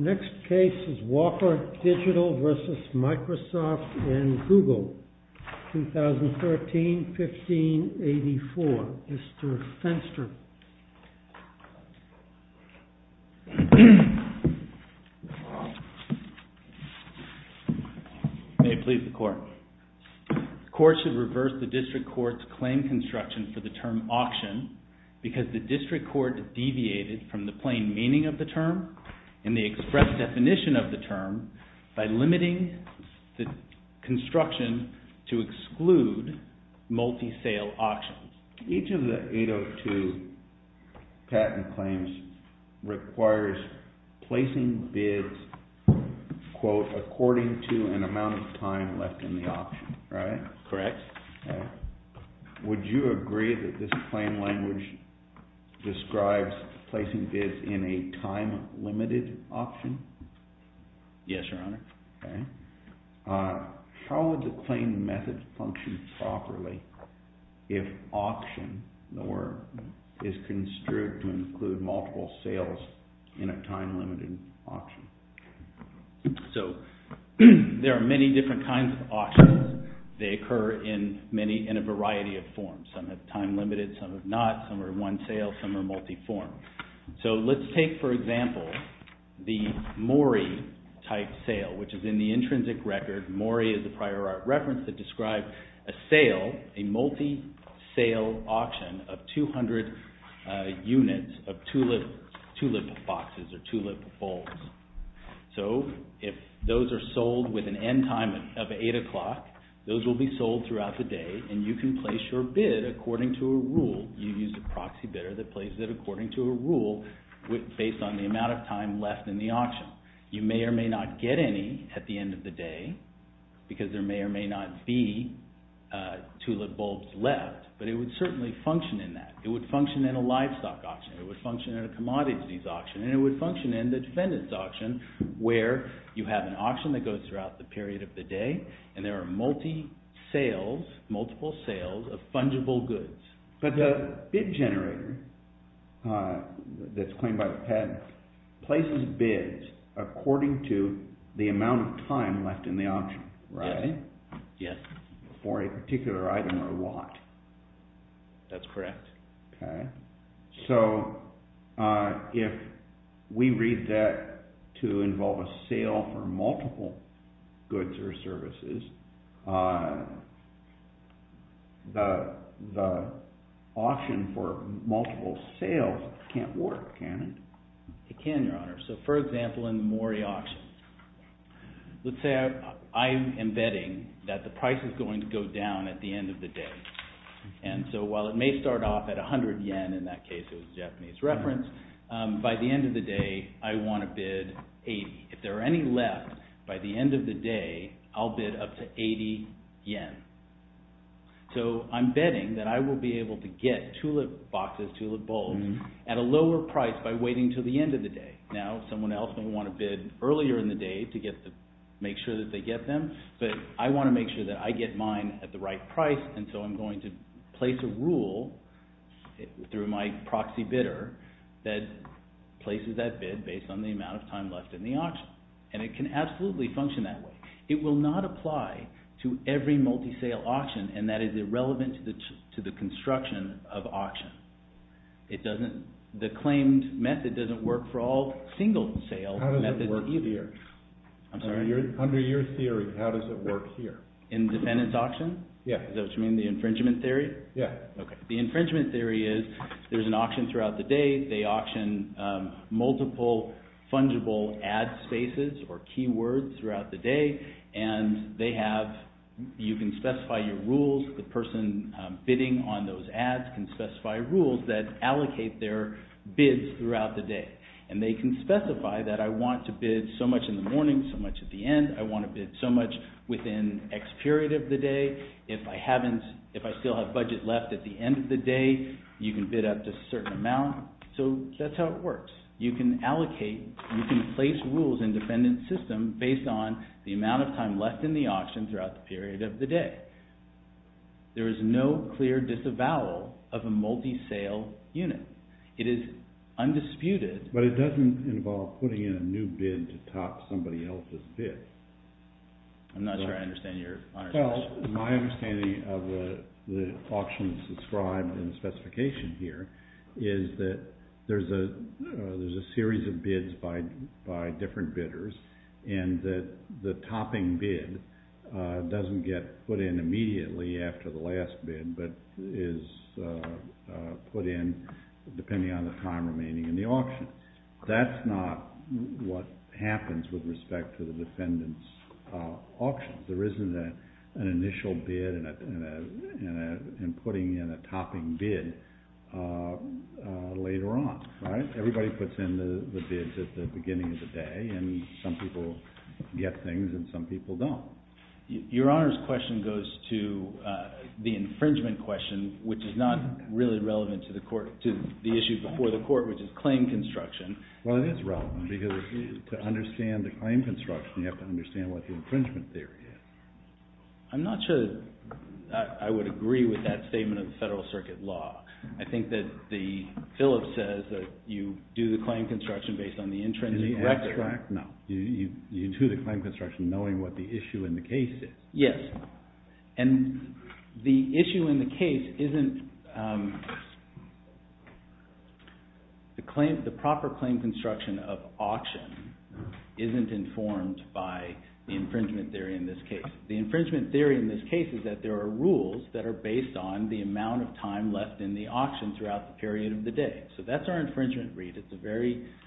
Next case is Walker Digital v. Microsoft and Google, 2013-1584, Mr. Fenster. The court should reverse the district court's claim construction for the term auction because the district court deviated from the plain meaning of the term and the express definition of the term by limiting the construction to exclude multi-sale auctions. Each of the 802 patent claims requires placing bids, quote, according to an amount of time left in the auction, correct? Would you agree that this claim language describes placing bids in a time-limited auction? Yes, Your Honor. How would the claim method function properly if auction is construed to include multiple sales in a time-limited auction? So there are many different kinds of auctions. They occur in a variety of forms, some have time-limited, some have not, some are one-sale, some are multi-form. So let's take, for example, the Mori-type sale, which is in the intrinsic record, Mori is the prior art reference that describes a sale, a multi-sale auction of 200 units of tulip boxes or tulip bowls. So if those are sold with an end time of 8 o'clock, those will be sold throughout the day and you can place your bid according to a rule, you use a proxy bidder that places it according to a rule based on the amount of time left in the auction. You may or may not get any at the end of the day because there may or may not be tulip bulbs left, but it would certainly function in that. It would function in a livestock auction, it would function in a commodities auction, and it would function in the defendant's auction where you have an auction that goes throughout the period of the day and there are multi-sales, multiple sales of fungible goods. But the bid generator that's claimed by the patent places bids according to the amount of time left in the auction, right? Yes. For a particular item or lot. That's correct. Okay. So if we read that to involve a sale for multiple goods or services, the auction for multiple sales can't work, can it? It can, Your Honor. So for example, in the Mori auction, let's say I am betting that the price is going to go down at the end of the day. And so while it may start off at 100 yen, in that case it was a Japanese reference, by the end of the day I want to bid 80. If there are any left by the end of the day, I'll bid up to 80 yen. So I'm betting that I will be able to get tulip boxes, tulip bulbs at a lower price by waiting until the end of the day. Now someone else may want to bid earlier in the day to make sure that they get them, but I want to make sure that I get mine at the right price, and so I'm going to place a rule through my proxy bidder that places that bid based on the amount of time left in the auction. And it can absolutely function that way. It will not apply to every multi-sale auction, and that is irrelevant to the construction of auction. The claimed method doesn't work for all single-sale methods either. How does it work here? I'm sorry? Under your theory, how does it work here? In defendant's auction? Yeah. Is that what you mean, the infringement theory? Yeah. Okay. The infringement theory is, there's an auction throughout the day, they auction multiple fungible ad spaces or keywords throughout the day, and they have... You can specify your rules, the person bidding on those ads can specify rules that allocate their bids throughout the day. And they can specify that I want to bid so much in the morning, so much at the end, I want to bid so much within X period of the day, if I haven't, if I still have budget left at the end of the day, you can bid up to a certain amount. So that's how it works. You can allocate, and you can place rules in defendant's system based on the amount of time left in the auction throughout the period of the day. There is no clear disavowal of a multi-sale unit. It is undisputed. But it doesn't involve putting in a new bid to top somebody else's bid. I'm not sure I understand your honorable question. Well, my understanding of the auctions described in the specification here is that there's a series of bids by different bidders, and that the topping bid doesn't get put in immediately after the last bid, but is put in depending on the time remaining in the auction. That's not what happens with respect to the defendant's auction. There isn't an initial bid and putting in a topping bid later on, right? Everybody puts in the bids at the beginning of the day, and some people get things and some people don't. Your Honor's question goes to the infringement question, which is not really relevant to the issue before the court, which is claim construction. Well, it is relevant, because to understand the claim construction, you have to understand what the infringement theory is. I'm not sure I would agree with that statement of the Federal Circuit Law. I think that the Phillips says that you do the claim construction based on the intrinsic record. Is it abstract? No. You do the claim construction knowing what the issue in the case is. Yes. And the issue in the case isn't the proper claim construction of auction isn't informed by the infringement theory in this case. The infringement theory in this case is that there are rules that are based on the amount of time left in the auction throughout the period of the day. So that's our infringement read.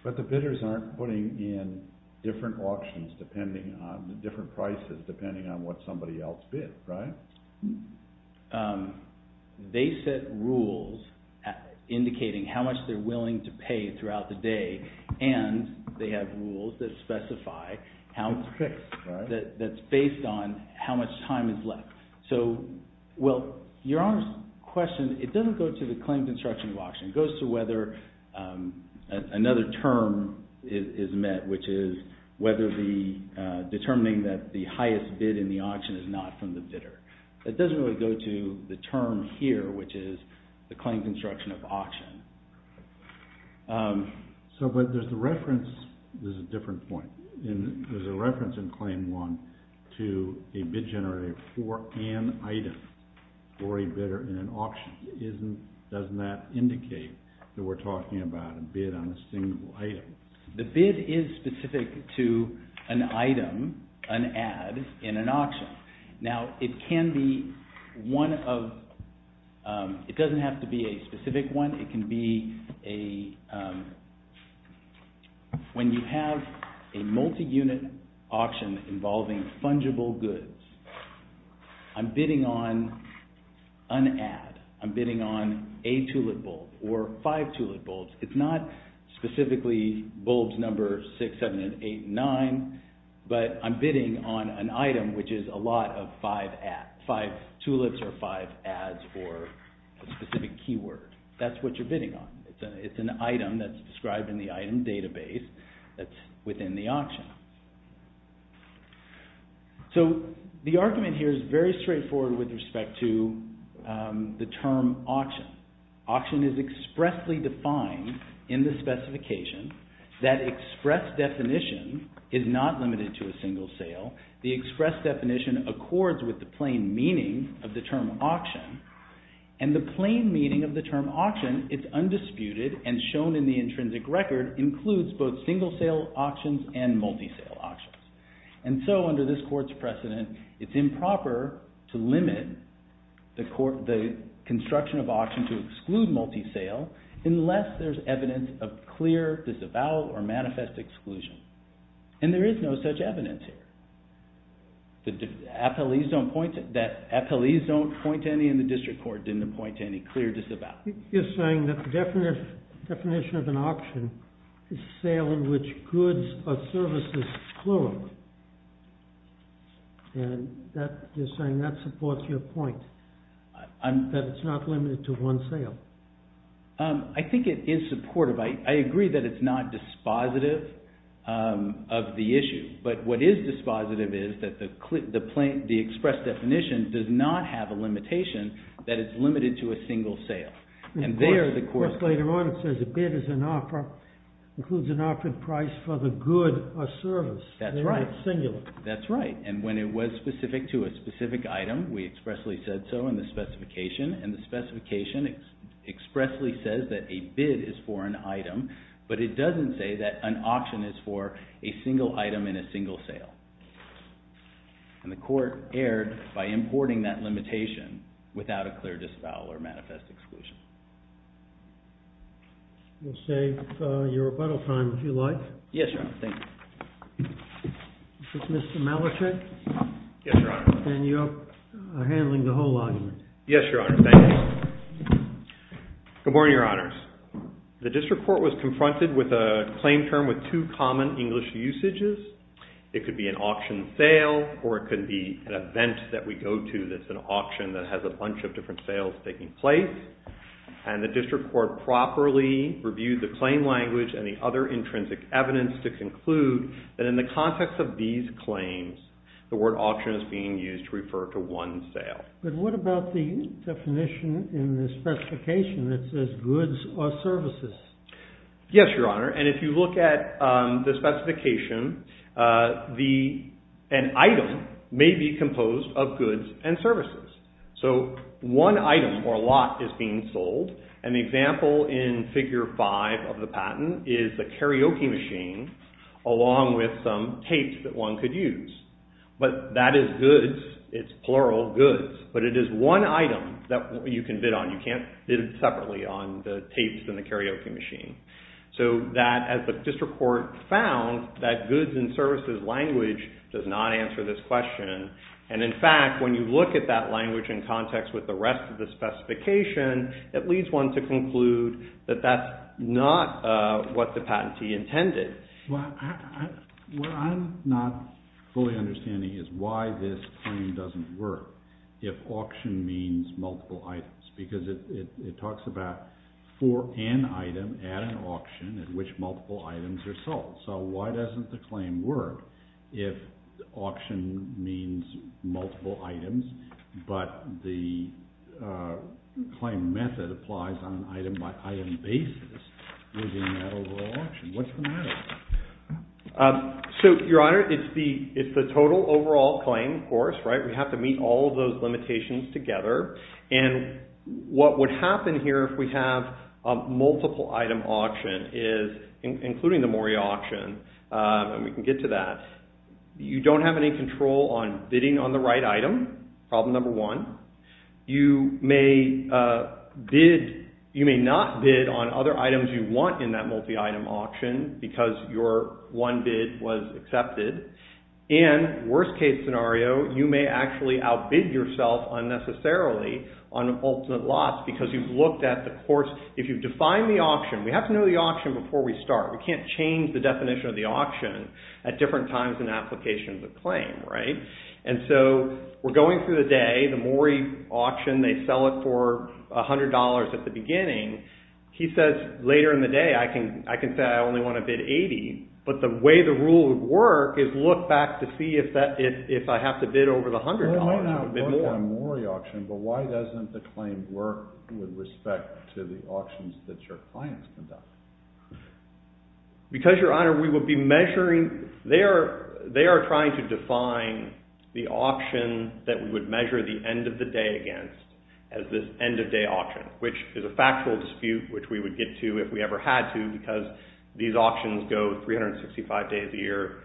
But the bidders aren't putting in different auctions depending on the different prices depending on what somebody else bid, right? They set rules indicating how much they're willing to pay throughout the day, and they have rules that specify that's based on how much time is left. So, well, Your Honor's question, it doesn't go to the claim construction of auction. It goes to whether another term is met, which is determining that the highest bid in the auction is not from the bidder. It doesn't really go to the term here, which is the claim construction of auction. So, but there's a reference, this is a different point, and there's a reference in Claim 1 to a bid generator for an item for a bidder in an auction. Isn't, doesn't that indicate that we're talking about a bid on a single item? The bid is specific to an item, an ad, in an auction. Now it can be one of, it doesn't have to be a specific one, it can be a, when you have a multi-unit auction involving fungible goods, I'm bidding on an ad. I'm bidding on a tulip bulb, or five tulip bulbs. It's not specifically bulbs number six, seven, eight, nine, but I'm bidding on an item which is a lot of five ad, five tulips, or five ads, or a specific keyword. That's what you're bidding on. It's an item that's described in the item database that's within the auction. So, the argument here is very straightforward with respect to the term auction. Auction is expressly defined in the specification that express definition is not limited to a single sale. The express definition accords with the plain meaning of the term auction, and the plain meaning of the term auction, it's undisputed and shown in the intrinsic record, includes both single sale auctions and multi-sale auctions. And so, under this court's precedent, it's improper to limit the construction of auction to exclude multi-sale, unless there's evidence of clear disavowal or manifest exclusion. And there is no such evidence here. The FLEs don't point to any in the district court, didn't point to any clear disavowal. You're saying that the definition of an auction is a sale in which goods or services flow. And you're saying that supports your point, that it's not limited to one sale. I think it is supportive. I agree that it's not dispositive of the issue. But what is dispositive is that the express definition does not have a limitation that it's limited to a single sale. And there, later on, it says a bid is an offer, includes an offered price for the good or service. That's right. In its singular. That's right. And when it was specific to a specific item, we expressly said so in the specification, and the specification expressly says that a bid is for an item, but it doesn't say that an auction is for a single item in a single sale. And the court erred by importing that limitation without a clear disavowal or manifest exclusion. We'll save your rebuttal time if you like. Yes, Your Honor. Thank you. This is Mr. Malachy. Yes, Your Honor. And you're handling the whole argument. Yes, Your Honor. Thank you. Good morning, Your Honors. The district court was confronted with a claim term with two common English usages. It could be an auction sale, or it could be an event that we go to that's an auction that has a bunch of different sales taking place. And the district court properly reviewed the claim language and the other intrinsic evidence to conclude that in the context of these claims, the word auction is being used to refer to one sale. But what about the definition in the specification that says goods or services? Yes, Your Honor. And if you look at the specification, an item may be composed of goods and services. So one item or a lot is being sold. An example in figure five of the patent is the karaoke machine along with some tapes that one could use. But that is goods. It's plural goods. But it is one item that you can bid on. You can't bid separately on the tapes than the karaoke machine. So that, as the district court found, that goods and services language does not answer this question. And, in fact, when you look at that language in context with the rest of the specification, it leads one to conclude that that's not what the patentee intended. Well, what I'm not fully understanding is why this claim doesn't work if auction means multiple items, because it talks about for an item at an auction at which multiple items are sold. So why doesn't the claim work if auction means multiple items, but the claim method applies on an item-by-item basis within that overall auction? What's the matter? So, Your Honor, it's the total overall claim, of course, right? We have to meet all of those limitations together. And what would happen here if we have a multiple-item auction is, including the Moria auction, and we can get to that, you don't have any control on bidding on the right item, problem number one. You may not bid on other items you want in that multi-item auction because your one bid was accepted. And, worst-case scenario, you may actually outbid yourself unnecessarily on ultimate loss because you've looked at the course. If you've defined the auction, we have to know the auction before we start. We can't change the definition of the auction at different times in application of the claim. And so we're going through the day, the Moria auction, they sell it for $100 at the beginning. He says, later in the day, I can say I only want to bid $80. But the way the rule would work is look back to see if I have to bid over the $100 or bid more. Well, why not one-time Moria auction, but why doesn't the claim work with respect to the auctions that your clients conduct? Because, Your Honor, we will be measuring, they are trying to define the auction that we would measure the end of the day against as this end-of-day auction, which is a factual dispute which we would get to if we ever had to because these auctions go 365 days a year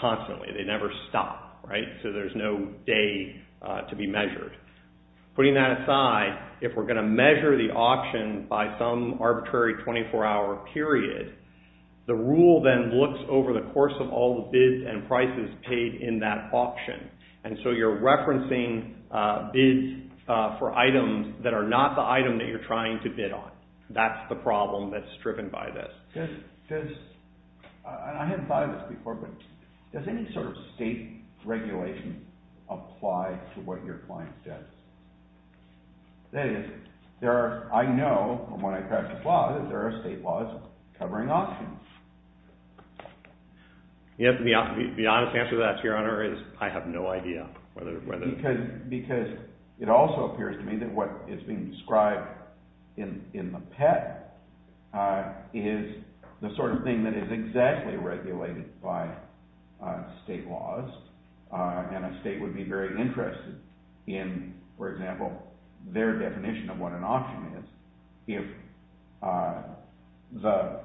constantly. They never stop, right, so there's no day to be measured. Putting that aside, if we're going to measure the auction by some arbitrary 24-hour period, the rule then looks over the course of all the bids and prices paid in that auction. And so you're referencing bids for items that are not the item that you're trying to bid on. That's the problem that's driven by this. I hadn't thought of this before, but does any sort of state regulation apply to what your client does? That is, I know from when I practice law that there are state laws covering auctions. The honest answer to that, Your Honor, is I have no idea. Because it also appears to me that what is being described in the PET is the sort of thing that is exactly regulated by state laws, and a state would be very interested in, for example, their definition of what an auction is if the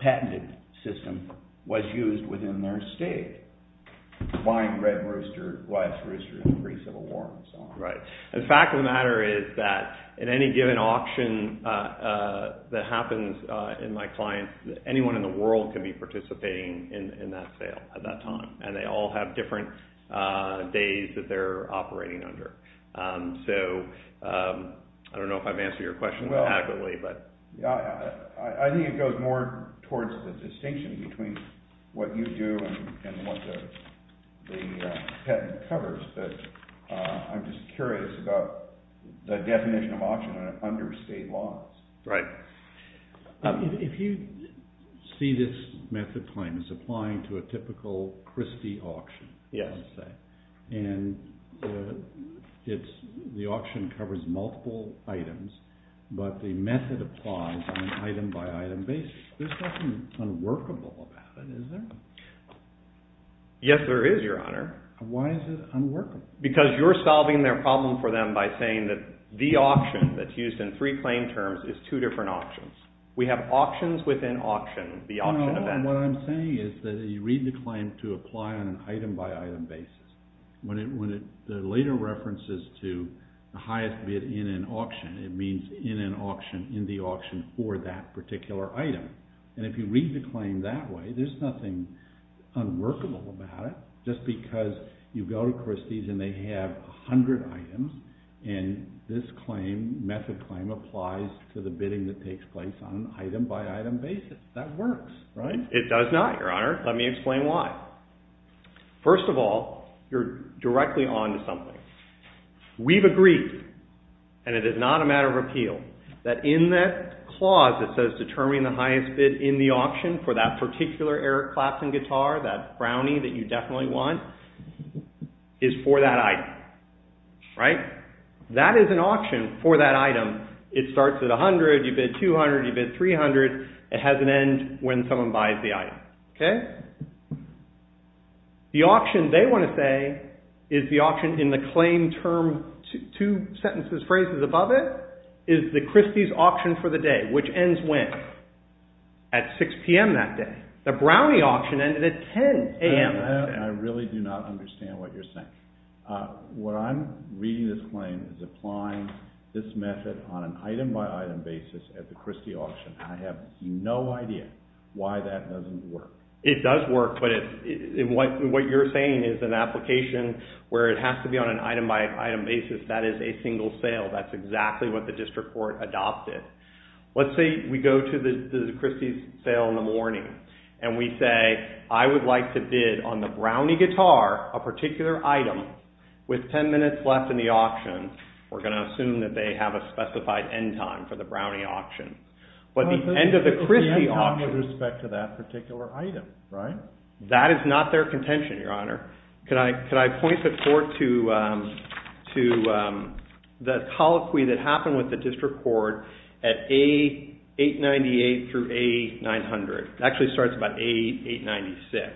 patented system was used within their state. Buying red rooster, white rooster in the face of a war, and so on. Right. The fact of the matter is that in any given auction that happens in my clients, anyone in the world can be participating in that sale at that time, and they all have different days that they're operating under. So I don't know if I've answered your question adequately, but... I think it goes more towards the distinction between what you do and what the PET covers, but I'm just curious about the definition of auction under state laws. Right. If you see this method, it's applying to a typical Christie auction, let's say. Yes. And the auction covers multiple items, but the method applies on an item-by-item basis. There's nothing unworkable about it, is there? Yes, there is, Your Honor. Why is it unworkable? Because you're solving their problem for them by saying that the auction that's used in three claim terms is two different auctions. We have auctions within auction, the auction event. And what I'm saying is that you read the claim to apply on an item-by-item basis. When it later references to the highest bid in an auction, it means in an auction, in the auction for that particular item. And if you read the claim that way, there's nothing unworkable about it. Just because you go to Christie's and they have 100 items, and this claim, method claim, applies to the bidding that takes place on an item-by-item basis. That works, right? It does not, Your Honor. Let me explain why. First of all, you're directly on to something. We've agreed, and it is not a matter of repeal, that in that clause that says determine the highest bid in the auction for that particular Eric Clapton guitar, that brownie that you definitely want, is for that item. Right? That is an auction for that item. It starts at $100, you bid $200, you bid $300. It has an end when someone buys the item. Okay? The auction they want to say is the auction in the claim term, two sentences, phrases above it, is the Christie's auction for the day, which ends when? At 6 p.m. that day. The brownie auction ended at 10 a.m. I really do not understand what you're saying. What I'm reading this claim is applying this method on an item-by-item basis at the Christie auction. I have no idea why that doesn't work. It does work, but what you're saying is an application where it has to be on an item-by-item basis. That is a single sale. That's exactly what the district court adopted. Let's say we go to the Christie's sale in the morning, and we say, I would like to bid on the brownie guitar, a particular item, with 10 minutes left in the auction. We're going to assume that they have a specified end time for the brownie auction. But the end of the Christie auction... The end time with respect to that particular item, right? That is not their contention, Your Honor. Could I point the court to the colloquy that happened with the district court at A898 through A900. It actually starts about A896.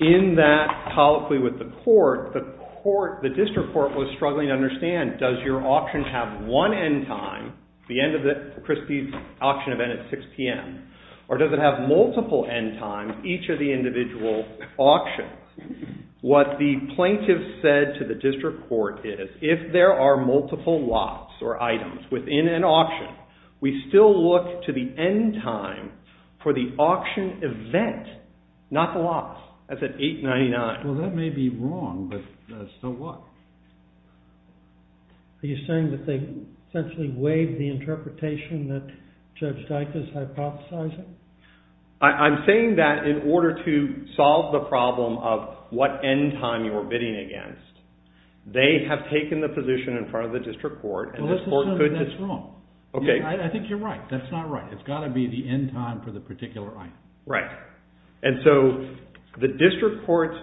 In that colloquy with the court, the district court was struggling to understand, does your auction have one end time, the end of the Christie's auction event at 6 p.m., or does it have multiple end times, each of the individual auctions? What the plaintiff said to the district court is, if there are multiple lots or items within an auction, we still look to the end time for the auction event, not the lots. That's at 899. Well, that may be wrong, but so what? Are you saying that they essentially waived the interpretation that Judge Dykes is hypothesizing? I'm saying that in order to solve the problem of what end time you're bidding against, they have taken the position in front of the district court. That's wrong. I think you're right. That's not right. It's got to be the end time for the particular item. Right. The district court's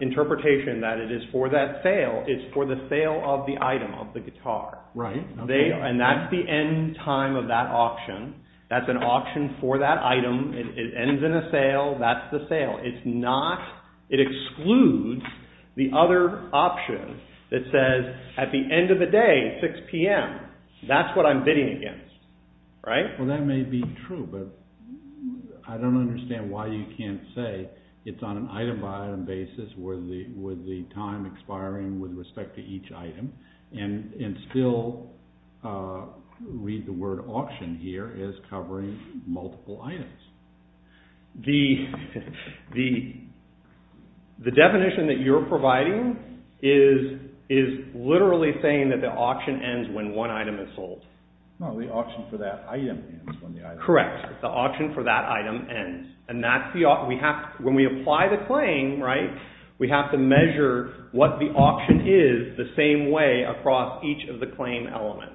interpretation that it is for that sale is for the sale of the item, of the guitar. Right. That's the end time of that auction. That's an auction for that item. It ends in a sale. That's the sale. It excludes the other option that says at the end of the day, 6 p.m., that's what I'm bidding against. Right? Well, that may be true, but I don't understand why you can't say it's on an item-by-item basis with the time expiring with respect to each item and still read the word auction here as covering multiple items. The definition that you're providing is literally saying that the auction ends when one item is sold. No, the auction for that item ends when the item is sold. Correct. The auction for that item ends. When we apply the claim, we have to measure what the auction is the same way across each of the claim elements.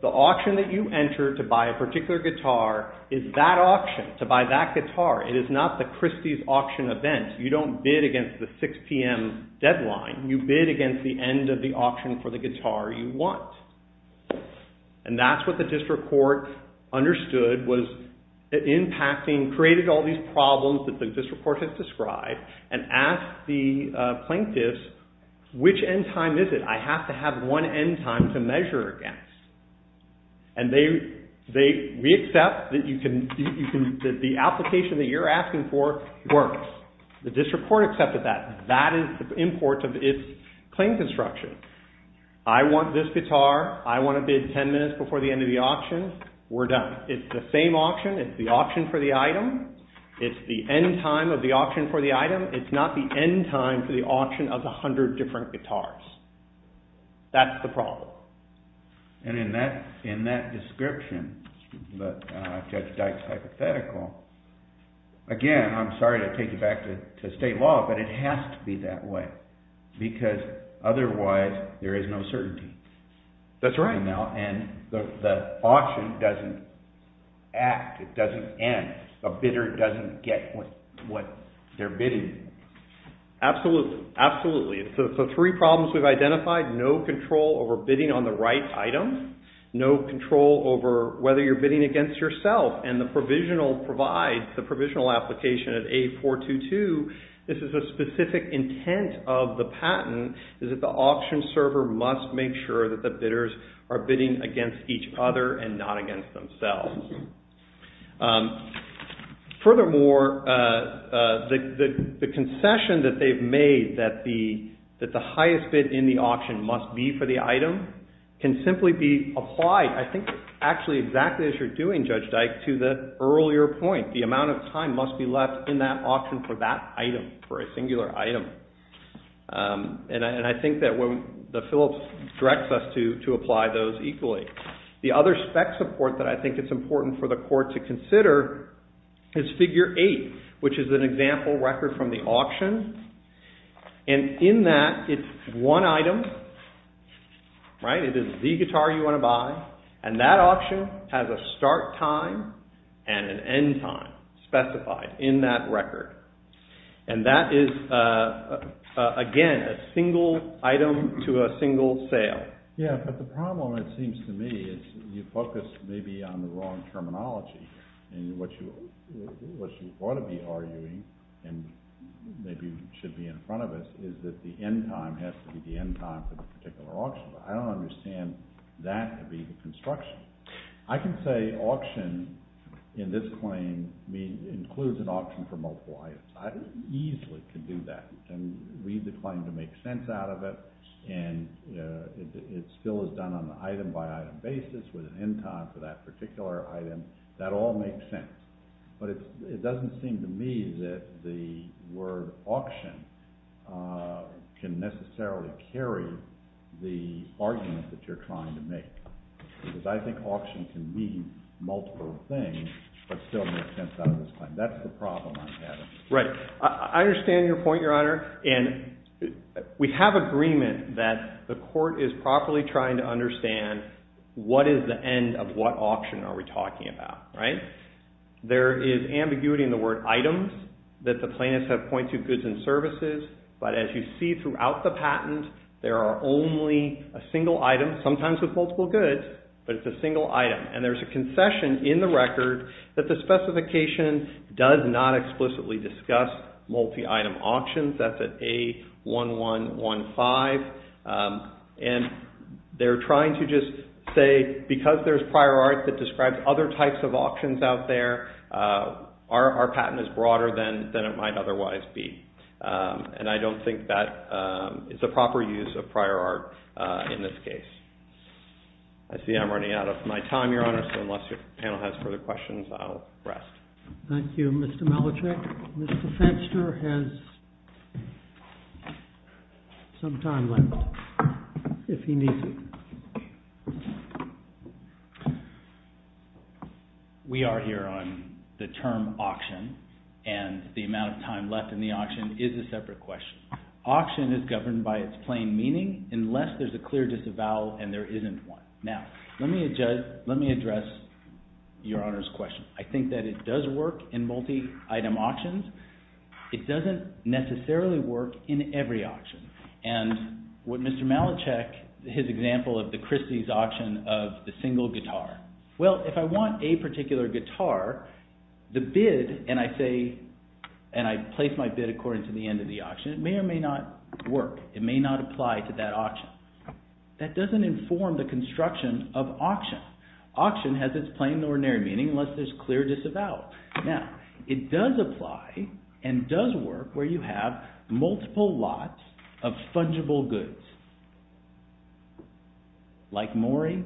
The auction that you enter to buy a particular guitar is that auction, to buy that guitar. It is not the Christie's auction event. You don't bid against the 6 p.m. deadline. You bid against the end of the auction for the guitar you want. That's what the district court understood was impacting, created all these problems that the district court has described and asked the plaintiffs, which end time is it? I have to have one end time to measure against. We accept that the application that you're asking for works. The district court accepted that. That is the import of its claim construction. I want this guitar. I want to bid 10 minutes before the end of the auction. We're done. It's the same auction. It's the auction for the item. It's the end time of the auction for the item. It's not the end time for the auction of 100 different guitars. That's the problem. And in that description, Judge Dyke's hypothetical, again, I'm sorry to take you back to state law, but it has to be that way because otherwise there is no certainty. That's right. And the auction doesn't act. It doesn't end. A bidder doesn't get what they're bidding. Absolutely. Absolutely. So three problems we've identified, no control over bidding on the right item, no control over whether you're bidding against yourself, and the provisional provides, the provisional application at A422, this is a specific intent of the patent, is that the auction server must make sure that the bidders are bidding against each other and not against themselves. Furthermore, the concession that they've made that the highest bid in the auction must be for the item can simply be applied, I think, actually exactly as you're doing, Judge Dyke, to the earlier point. The amount of time must be left in that auction for that item, for a singular item. And I think that when the Phillips directs us to apply those equally. The other spec support that I think it's important for the court to consider is figure eight, which is an example record from the auction. And in that, it's one item, right? It is the guitar you want to buy. And that auction has a start time and an end time specified in that record. And that is, again, a single item to a single sale. Yeah, but the problem, it seems to me, is you focus maybe on the wrong terminology. And what you ought to be arguing, and maybe should be in front of us, is that the end time has to be the end time for the particular auction. I don't understand that to be the construction. I can say auction in this claim includes an auction for multiple items. I easily can do that. I can read the claim to make sense out of it. And it still is done on the item by item basis with an end time for that particular item. That all makes sense. But it doesn't seem to me that the word auction can necessarily carry the argument that you're trying to make. Because I think auction can mean multiple things, but still make sense out of this claim. That's the problem I'm having. Right. I understand your point, Your Honor. And we have agreement that the court is properly trying to understand what is the end of what auction are we talking about, right? There is ambiguity in the word items that the plaintiffs have pointed to goods and services. But as you see throughout the patent, there are only a single item, sometimes with multiple goods, but it's a single item. And there's a concession in the record that the specification does not explicitly discuss multi-item auctions. That's at A1115. And they're trying to just say because there's prior art that describes other types of auctions out there, our patent is broader than it might otherwise be. And I don't think that is a proper use of prior art in this case. I see I'm running out of my time, Your Honor. So unless your panel has further questions, I'll rest. Thank you, Mr. Malachek. Mr. Fenster has some time left, if he needs it. We are here on the term auction. And the amount of time left in the auction is a separate question. Auction is governed by its plain meaning unless there's a clear disavowal and there isn't one. Now, let me address Your Honor's question. I think that it does work in multi-item auctions. It doesn't necessarily work in every auction. And what Mr. Malachek, his example of the Christie's auction of the single guitar. Well, if I want a particular guitar, the bid, and I say, and I place my bid according to the end of the auction, it may or may not work. It may not apply to that auction. That doesn't inform the construction of auction. Auction has its plain and ordinary meaning unless there's clear disavowal. Now, it does apply and does work where you have multiple lots of fungible goods. Like mooring,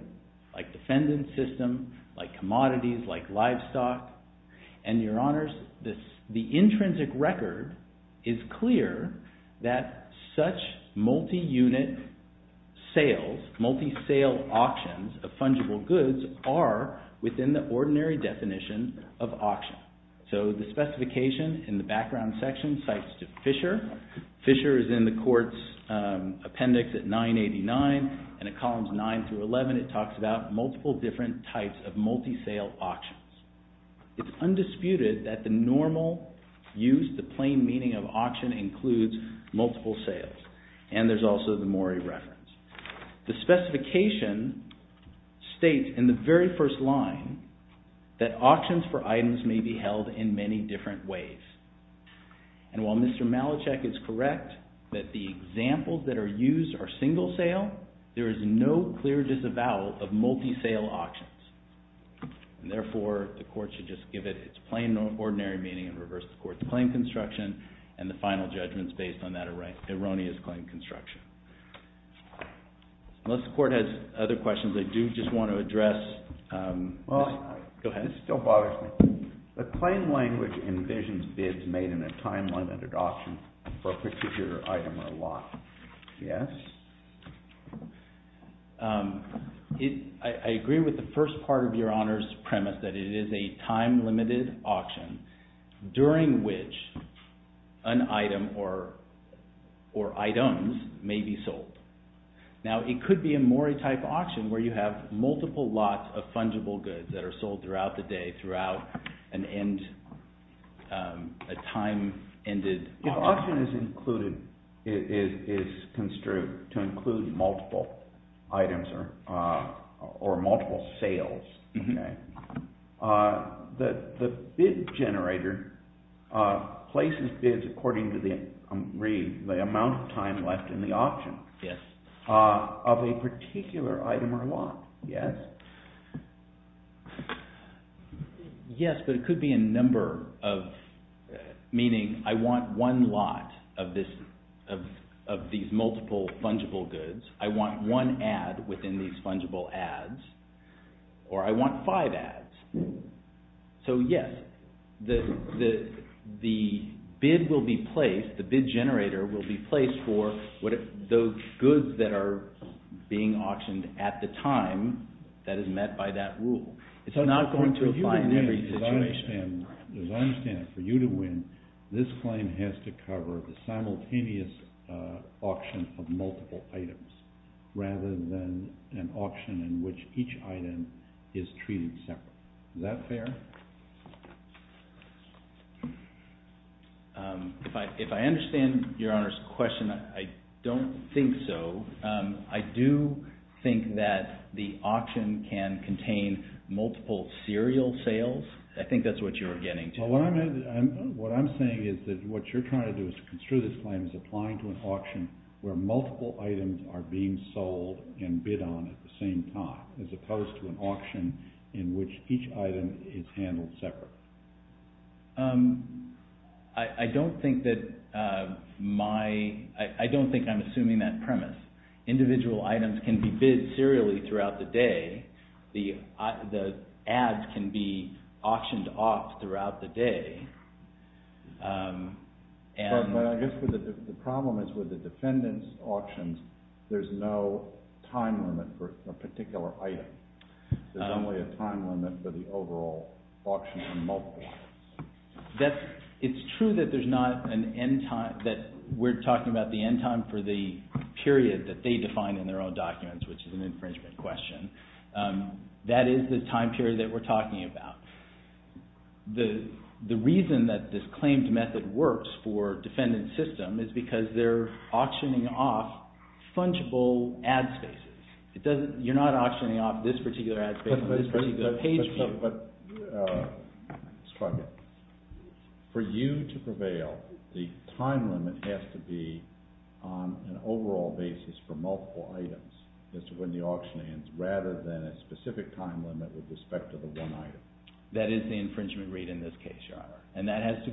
like defendant system, like commodities, like livestock. And, Your Honors, the intrinsic record is clear that such multi-unit sales, multi-sale auctions of fungible goods are within the ordinary definition of auction. So the specification in the background section cites Fischer. Fischer is in the court's appendix at 989, and at columns 9 through 11 it talks about multiple different types of multi-sale auctions. It's undisputed that the normal use, the plain meaning of auction includes multiple sales. And there's also the mooring reference. The specification states in the very first line that auctions for items may be held in many different ways. And while Mr. Malachek is correct that the examples that are used are single sale, there is no clear disavowal of multi-sale auctions. Therefore, the court should just give it its plain and ordinary meaning and reverse the court's claim construction and the final judgment is based on that erroneous claim construction. Unless the court has other questions, I do just want to address this. Go ahead. This still bothers me. The plain language envisions bids made in a time-limited auction for a particular item or lot. Yes. I agree with the first part of your Honor's premise that it is a time-limited auction during which an item or items may be sold. Now, it could be a mooring-type auction where you have multiple lots of fungible goods that are sold throughout the day throughout a time-ended auction. If auction is included, is construed to include multiple items or multiple sales, the bid generator places bids according to the amount of time left in the auction of a particular item or lot. Yes. Yes, but it could be a number of, meaning I want one lot of these multiple fungible goods, I want one ad within these fungible ads, or I want five ads. So, yes, the bid will be placed, the bid generator will be placed for those goods that are being auctioned at the time that is met by that rule. It's not going to apply in every situation. As I understand it, for you to win, this claim has to cover the simultaneous auction of multiple items rather than an auction in which each item is treated separately. Is that fair? If I understand Your Honor's question, I don't think so. I do think that the auction can contain multiple serial sales. I think that's what you're getting to. Well, what I'm saying is that what you're trying to do is to construe this claim as applying to an auction where multiple items are being sold and bid on at the same time as opposed to an auction in which each item is handled separately. I don't think I'm assuming that premise. Individual items can be bid serially throughout the day. The ads can be auctioned off throughout the day. But I guess the problem is with the defendant's auctions, there's no time limit for a particular item. There's only a time limit for the overall auction of multiple items. It's true that we're talking about the end time for the period that they define in their own documents, which is an infringement question. That is the time period that we're talking about. The reason that this claimed method works for defendant's system is because they're auctioning off fungible ad spaces. You're not auctioning off this particular ad space or this particular page view. But for you to prevail, the time limit has to be on an overall basis for multiple items as to when the auction ends rather than a specific time limit with respect to the one item. That is the infringement rate in this case, Your Honor. And that's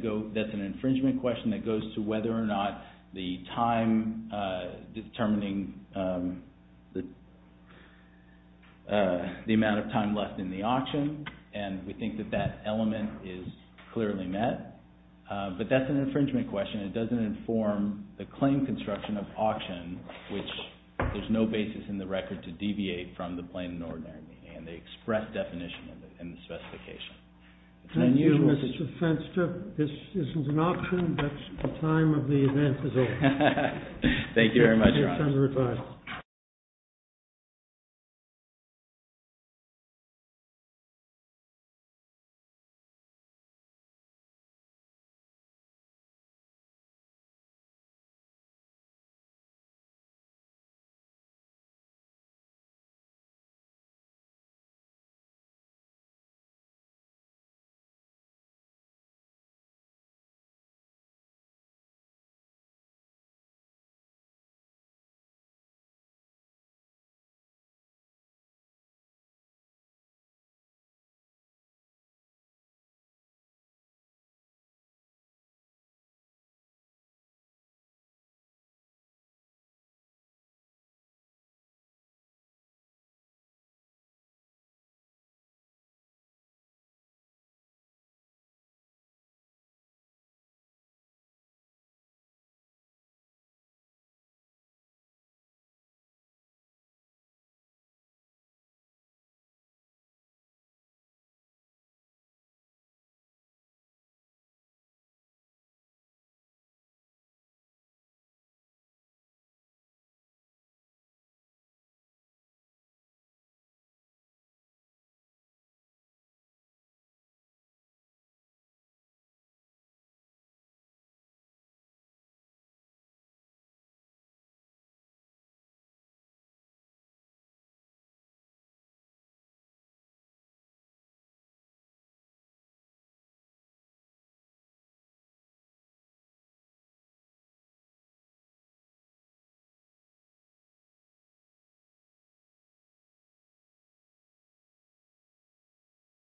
an infringement question that goes to whether or not the time determining the amount of time left in the auction. And we think that that element is clearly met. But that's an infringement question. It doesn't inform the claim construction of auction, which there's no basis in the record to deviate from the plain and ordinary meaning. And they express definition in the specification. Thank you, Mr. Fenster. This isn't an auction, but the time of the event is over. Thank you very much, Your Honor. It's time to retire.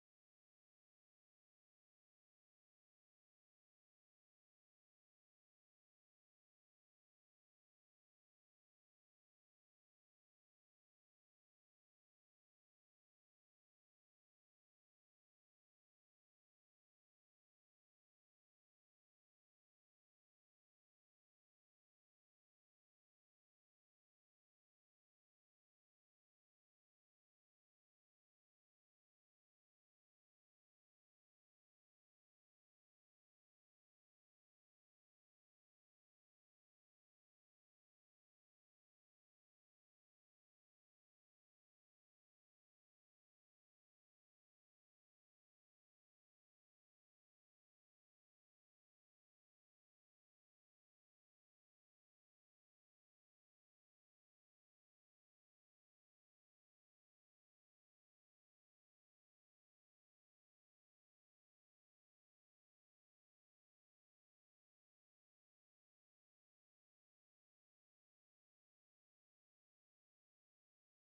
Thank you. Thank you. Thank you. Thank you.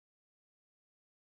Thank you. Thank you.